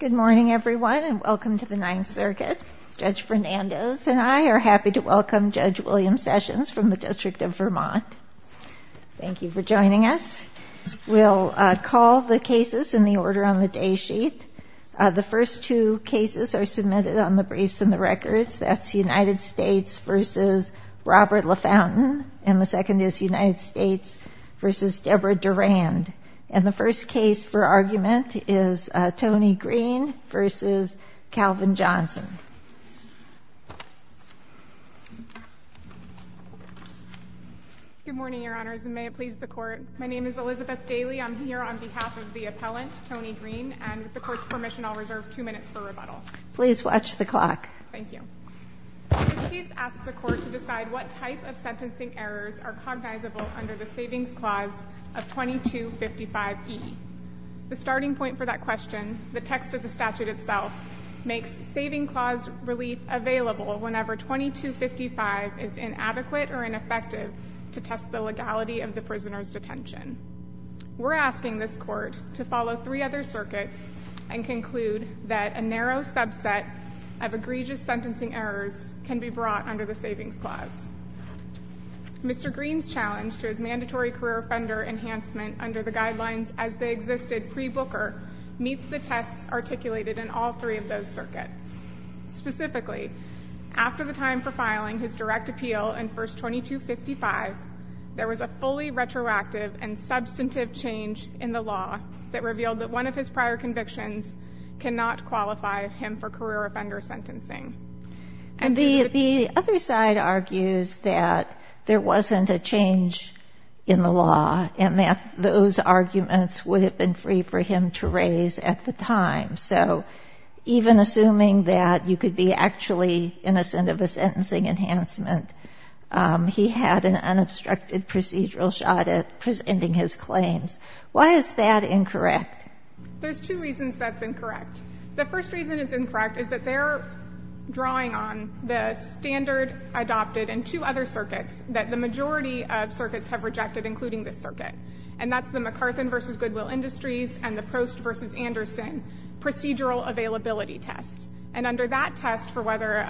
Good morning everyone and welcome to the Ninth Circuit. Judge Fernandez and I are happy to welcome Judge William Sessions from the District of Vermont. Thank you for joining us. We'll call the cases in the order on the day sheet. The first two cases are submitted on the briefs and the records. That's United States v. Robert LaFountain and the second is United States v. Deborah Durand. And the first case for argument is Tony Green v. Calvin Johnson. Good morning, Your Honors, and may it please the Court. My name is Elizabeth Daly. I'm here on behalf of the appellant, Tony Green, and with the Court's permission, I'll reserve two minutes for rebuttal. Please watch the clock. Thank you. This case asks the Court to decide what type of sentencing errors are cognizable under the Savings Clause of 2255e. The starting point for that question, the text of the statute itself, makes Saving Clause relief available whenever 2255 is inadequate or ineffective to test the legality of the prisoner's detention. We're asking this Court to follow three other circuits and conclude that a narrow subset of egregious sentencing errors can be brought under the Savings Clause. Mr. Green's challenge to his mandatory career offender enhancement under the guidelines as they existed pre-Booker meets the tests articulated in all three of those circuits. Specifically, after the time for filing his direct appeal in verse 2255, there was a fully retroactive and substantive change in the law that revealed that one of his prior convictions cannot qualify him for the change in the law, and that those arguments would have been free for him to raise at the time. So even assuming that you could be actually innocent of a sentencing enhancement, he had an unobstructed procedural shot at presenting his claims. Why is that incorrect? There's two reasons that's incorrect. The first reason it's incorrect is that they're drawing on the standard adopted in two other circuits that the majority of circuits have rejected, including this circuit, and that's the MacArthur v. Goodwill Industries and the Post v. Anderson procedural availability test. And under that test for whether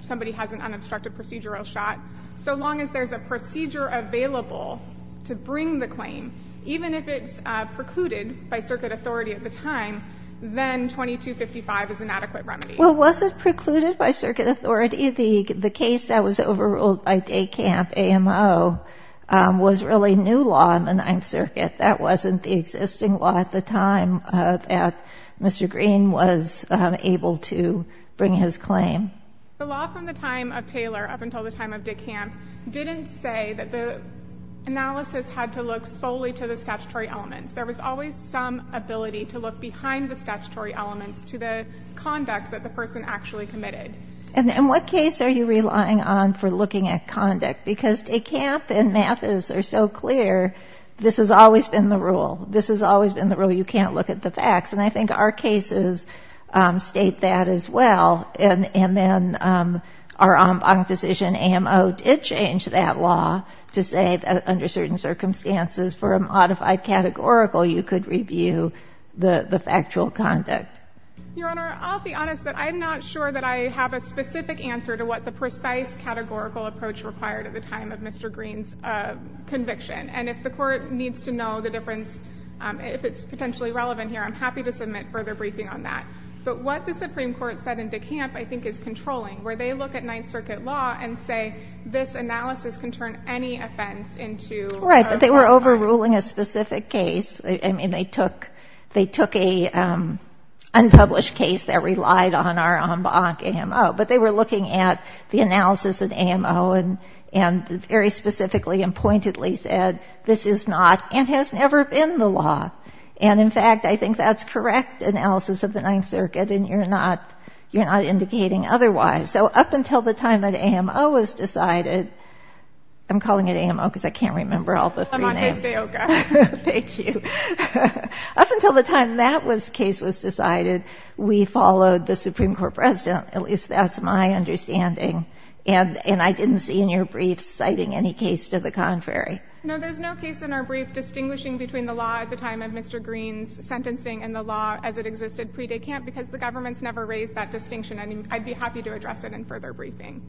somebody has an unobstructed procedural shot, so long as there's a procedure available to bring the claim, even if it's precluded by circuit authority at the time, then 2255 is an adequate remedy. Well, was it the case that was overruled by Dekamp AMO was really new law in the Ninth Circuit? That wasn't the existing law at the time that Mr. Green was able to bring his claim? The law from the time of Taylor up until the time of Dekamp didn't say that the analysis had to look solely to the statutory elements. There was always some ability to look behind the statutory elements to the conduct that the person actually committed. And in what case are you relying on for looking at conduct? Because Dekamp and Mathis are so clear, this has always been the rule. This has always been the rule. You can't look at the facts. And I think our cases state that as well. And then our en banc decision, AMO, did change that law to say that under certain circumstances for a modified categorical, you could review the factual conduct. Your Honor, I'll be honest that I'm not sure that I have a specific answer to what the precise categorical approach required at the time of Mr. Green's conviction. And if the court needs to know the difference, if it's potentially relevant here, I'm happy to submit further briefing on that. But what the Supreme Court said in Dekamp I think is controlling, where they look at Ninth Circuit law and say this analysis can turn any offense into a modified one. Right. But they were overruling a specific case. I mean, they took a unpublished case that relied on our en banc AMO. But they were looking at the analysis of AMO and very specifically and pointedly said this is not and has never been the law. And in fact, I think that's correct analysis of the Ninth Circuit. And you're not indicating otherwise. So up until the time that AMO was decided, I'm calling it AMO because I can't remember all the three names. Thank you. Up until the time that case was decided, we followed the Supreme Court president, at least that's my understanding. And I didn't see in your brief citing any case to the contrary. No, there's no case in our brief distinguishing between the law at the time of Mr. Green's sentencing and the law as it existed pre-Dekamp because the government's never raised that distinction. And I'd be happy to address it in further briefing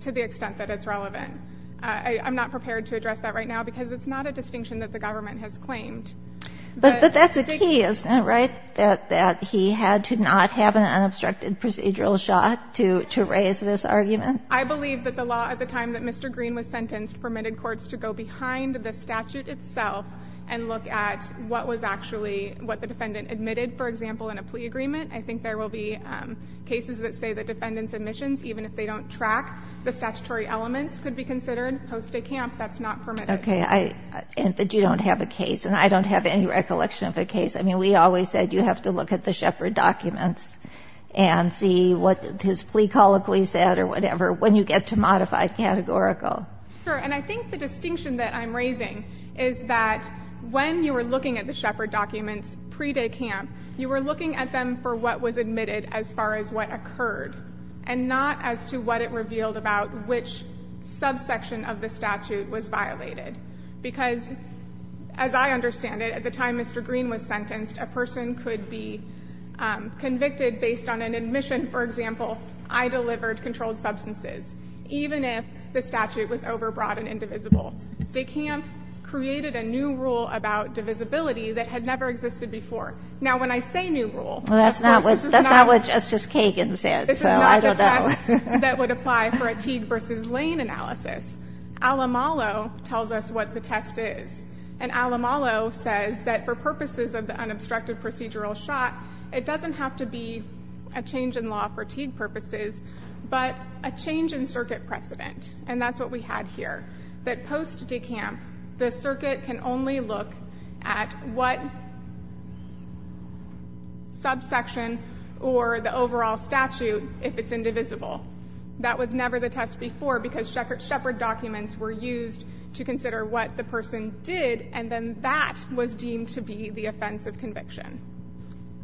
to the extent that it's relevant. I'm not prepared to address that right now because it's not a distinction that the government has claimed. But that's a key, isn't it, right? That he had to not have an unobstructed procedural shot to raise this argument. I believe that the law at the time that Mr. Green was sentenced permitted courts to go behind the statute itself and look at what was actually what the defendant admitted, for example, in a plea agreement. I think there will be cases that say the defendant's admissions, even if they don't track the statutory elements, could be considered post-Dekamp. That's not permitted. Okay, but you don't have a case, and I don't have any recollection of a case. I mean, we always said you have to look at the Shepard documents and see what his plea colloquy said or whatever when you get to modified categorical. Sure, and I think the distinction that I'm raising is that when you were looking at the Shepard documents pre-Dekamp, you were looking at them for what was admitted as far as what occurred, and not as to what it revealed about which subsection of the statute was violated. Because, as I understand it, at the time Mr. Green was sentenced, a person could be convicted based on an admission, for example, I delivered controlled substances, even if the statute was overbroad and indivisible. Dekamp created a new rule about divisibility that had never existed before. Now, when I say new rule, that's not what Justice Kagan said, so I don't know. That would apply for a Teague versus Lane analysis. Alamalo tells us what the test is, and Alamalo says that for purposes of the unobstructed procedural shot, it doesn't have to be a change in law for Teague purposes, but a change in circuit precedent, and that's what we had here, that post-Dekamp, the circuit can only look at what subsection or the overall statute if it's indivisible. That was never the test before, because Shepard documents were used to consider what the person did, and then that was deemed to be the offense of conviction.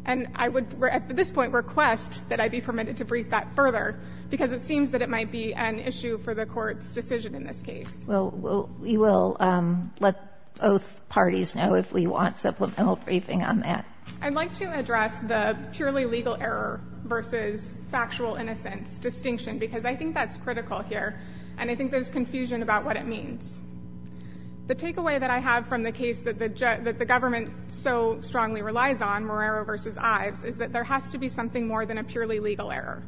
And I would, at this point, request that I be permitted to brief that further, because it seems that it might be an issue for the court's decision in this case. Well, we will let both parties know if we want supplemental briefing on that. I'd like to address the purely legal error versus factual innocence distinction, because I think that's critical here, and I think there's confusion about what it means. The takeaway that I have from the case that the government so strongly relies on, Morero versus Ives, is that there has to be something more than a purely legal error.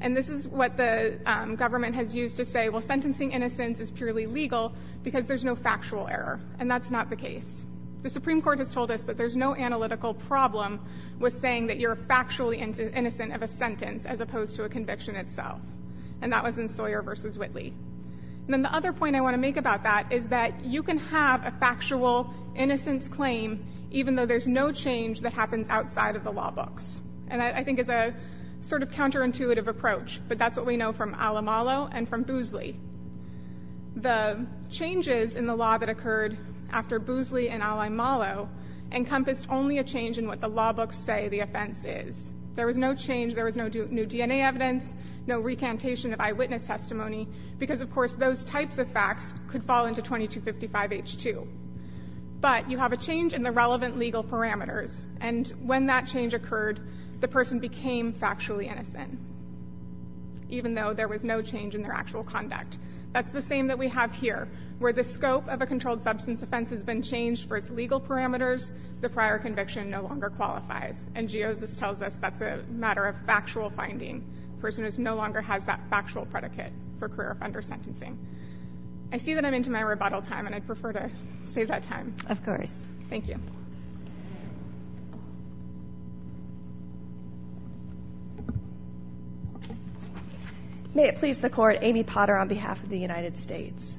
And this is what the government has used to say, well, sentencing innocence is purely legal because there's no factual error, and that's not the case. The Supreme Court has told us that there's no analytical problem with saying that you're factually innocent of a sentence as opposed to a conviction itself, and that was in Sawyer versus Whitley. And then the other point I want to make about that is that you can have a factual innocence claim even though there's no change that happens outside of the law books. And that, I think, is a sort of counterintuitive approach, but that's what we know from Al-Amalo and from Boosley. The changes in the law that occurred after Boosley and Al-Amalo encompassed only a change in what the law books say the offense is. There was no change, there was no new DNA evidence, no recantation of eyewitness testimony, because, of course, those types of facts could fall into 2255H2. But you have a change in the relevant legal parameters, and when that change occurred, the person became factually innocent, even though there was no change in their actual conduct. That's the same that we have here, where the scope of a controlled substance offense has been changed for its legal parameters, the prior conviction no longer qualifies. And Geosis tells us that's a matter of factual finding, a person who no longer has that factual predicate for career offender sentencing. I see that I'm into my rebuttal time, and I'd prefer to save that time. Of course. Thank you. May it please the court, Amy Potter on behalf of the United States.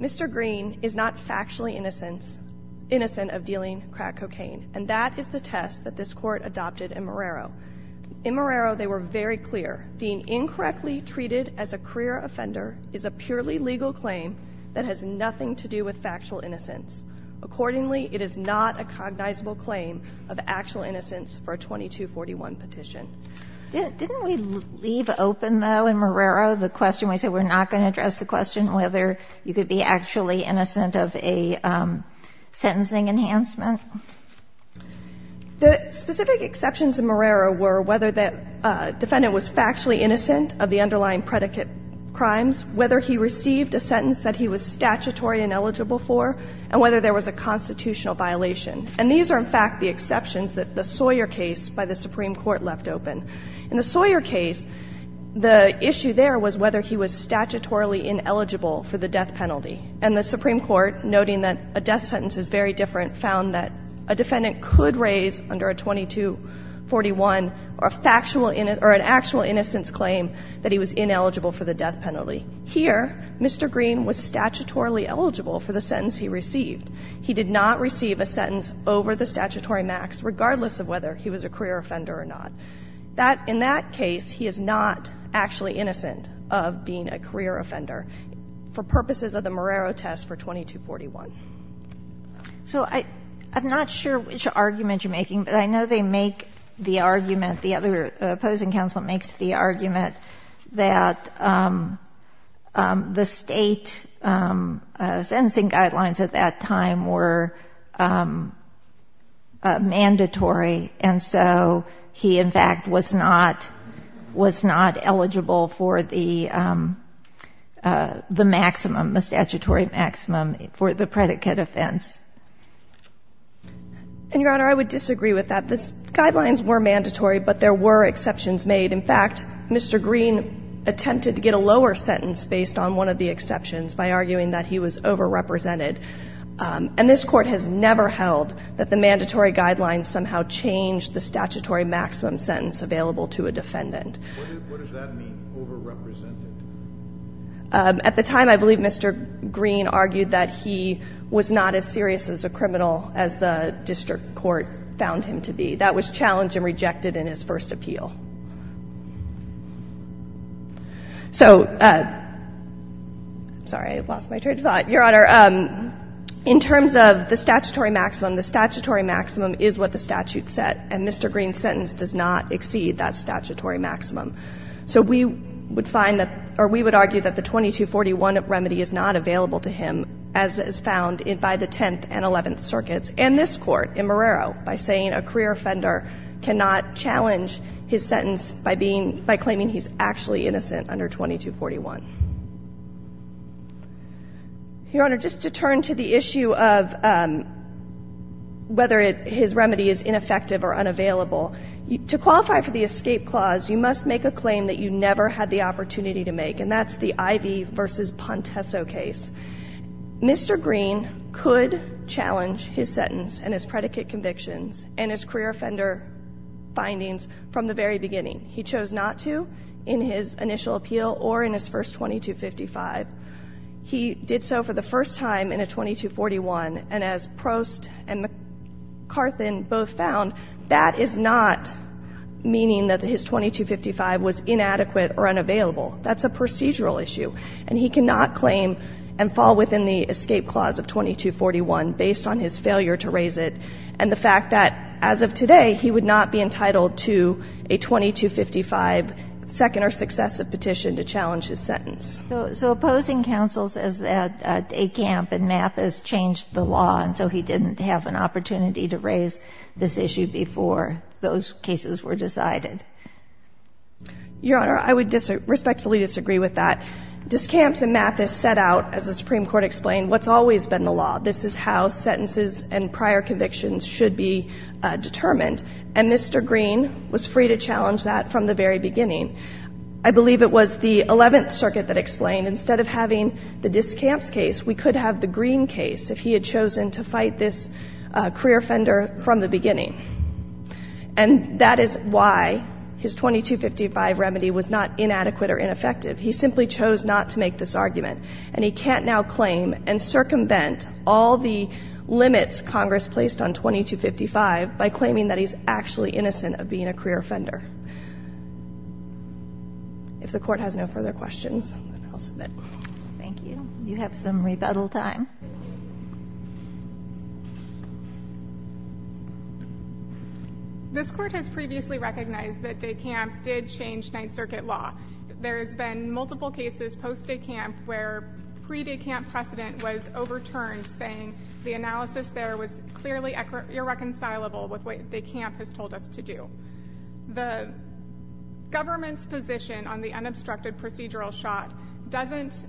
Mr. Green is not factually innocent of dealing crack cocaine, and that is the test that this court adopted in Marrero. In Marrero, they were very clear. Being factually innocent has nothing to do with factual innocence. Accordingly, it is not a cognizable claim of actual innocence for a 2241 petition. Didn't we leave open, though, in Marrero, the question when we said we're not going to address the question whether you could be actually innocent of a sentencing enhancement? The specific exceptions in Marrero were whether the defendant was factually ineligible for the death penalty. And the Supreme Court, noting that a death sentence is very different, found that a defendant could raise, under a 2241, a factual innocence or an actual innocence claim that he was ineligible for the death penalty. And in Marrero, the defendant is statutorily eligible for the sentence he received. He did not receive a sentence over the statutory max, regardless of whether he was a career offender or not. In that case, he is not actually innocent of being a career offender, for purposes of the Marrero test for 2241. So I'm not sure which argument you're making, but I know they make the argument the other opposing counsel makes the argument that the State sentencing guidelines at that time were mandatory, and so he, in fact, was not eligible for the maximum, the statutory maximum, for the predicate offense. And, Your Honor, I would disagree with that. In fact, Mr. Green attempted to get a lower sentence based on one of the exceptions by arguing that he was overrepresented. And this Court has never held that the mandatory guidelines somehow changed the statutory maximum sentence available to a defendant. At the time, I believe Mr. Green argued that he was not as serious as a criminal as the district court found him to be. That was challenged and rejected in his first appeal. So, I'm sorry, I lost my train of thought. Your Honor, in terms of the statutory maximum, the statutory maximum is what the statute set, and Mr. Green's sentence does not exceed that statutory maximum. So we would find that, or we would argue that the 2241 remedy is not available to him as is found by the Tenth and Eleventh Circuits and this Court in Marrero by saying a career offender cannot challenge his sentence by being, by claiming he's actually innocent under 2241. Your Honor, just to turn to the issue of whether his remedy is ineffective or unavailable, to qualify for the escape clause, you must make a claim that you Mr. Green could challenge his sentence and his predicate convictions and his career offender findings from the very beginning. He chose not to in his initial appeal or in his first 2255. He did so for the first time in a 2241, and as Prost and McCarthan both found, that is not meaning that his 2255 was inadequate or unavailable. That's a procedural issue, and he cannot claim and fall within the escape clause of 2241 based on his failure to raise it and the fact that, as of today, he would not be entitled to a 2255 second or successive petition to challenge his sentence. So opposing counsel says that Acamp and Mathis changed the law, and so he didn't have an opportunity to raise this issue before those cases were decided. Your Honor, I would respectfully disagree with that. Discamps and Mathis set out, as the Supreme Court explained, what's always been the law. This is how sentences and prior convictions should be determined, and Mr. Green was free to challenge that from the very beginning. I believe it was the Eleventh Circuit that explained instead of having the Discamps case, we could have the Green case if he had chosen to fight this career offender from the beginning. And that is why his 2255 remedy was not inadequate or ineffective. He simply chose not to make this argument, and he can't now claim and circumvent all the limits Congress placed on 2255 by claiming that he's actually innocent of being a career offender. If the Court has no further questions, I'll submit. Thank you. You have some rebuttal time. This Court has previously recognized that Decamp did change Ninth Circuit law. There has been multiple cases post-Decamp where pre-Decamp precedent was overturned saying the analysis there was clearly irreconcilable with what Decamp has told us to do. The government's position on the unobstructed procedural shot doesn't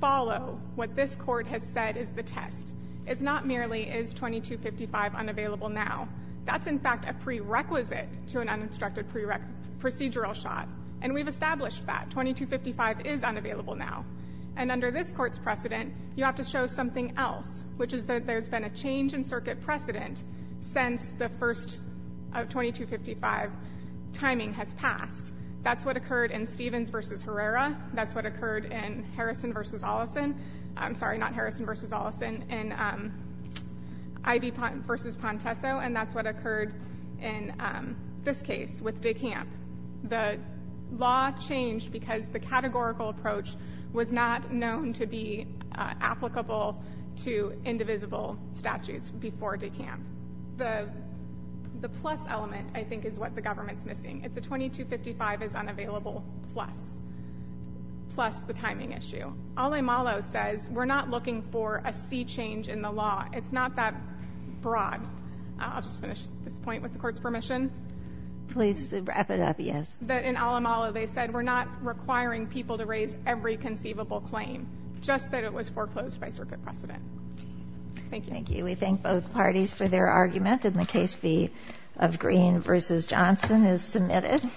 follow what this Court has said is the test. It's not merely is 2255 unavailable now. That's in fact a prerequisite to an unobstructed procedural shot, and we've established that. 2255 is unavailable now. And under this Court's precedent, you have to show something else, which is that there's been a change in Circuit precedent since the first 2255 timing has passed. That's what occurred in Stevens v. Herrera. That's what occurred in Harrison v. Oleson. I'm sorry, not Harrison v. Oleson. In Ivey v. Pontesso, and that's what occurred in this case with Decamp. The law changed because the categorical approach was not known to be applicable to indivisible statutes before Decamp. The plus element, I think, is what the government's missing. It's a 2255 is unavailable plus, plus the timing issue. Alamalo says we're not looking for a sea change in the law. It's not that broad. I'll just finish this point with the Court's permission. Please wrap it up, yes. In Alamalo, they said we're not requiring people to raise every conceivable claim, just that it was foreclosed by Circuit precedent. Thank you. Thank you. We thank both parties for their argument. And the case B of Green v. Johnson is submitted.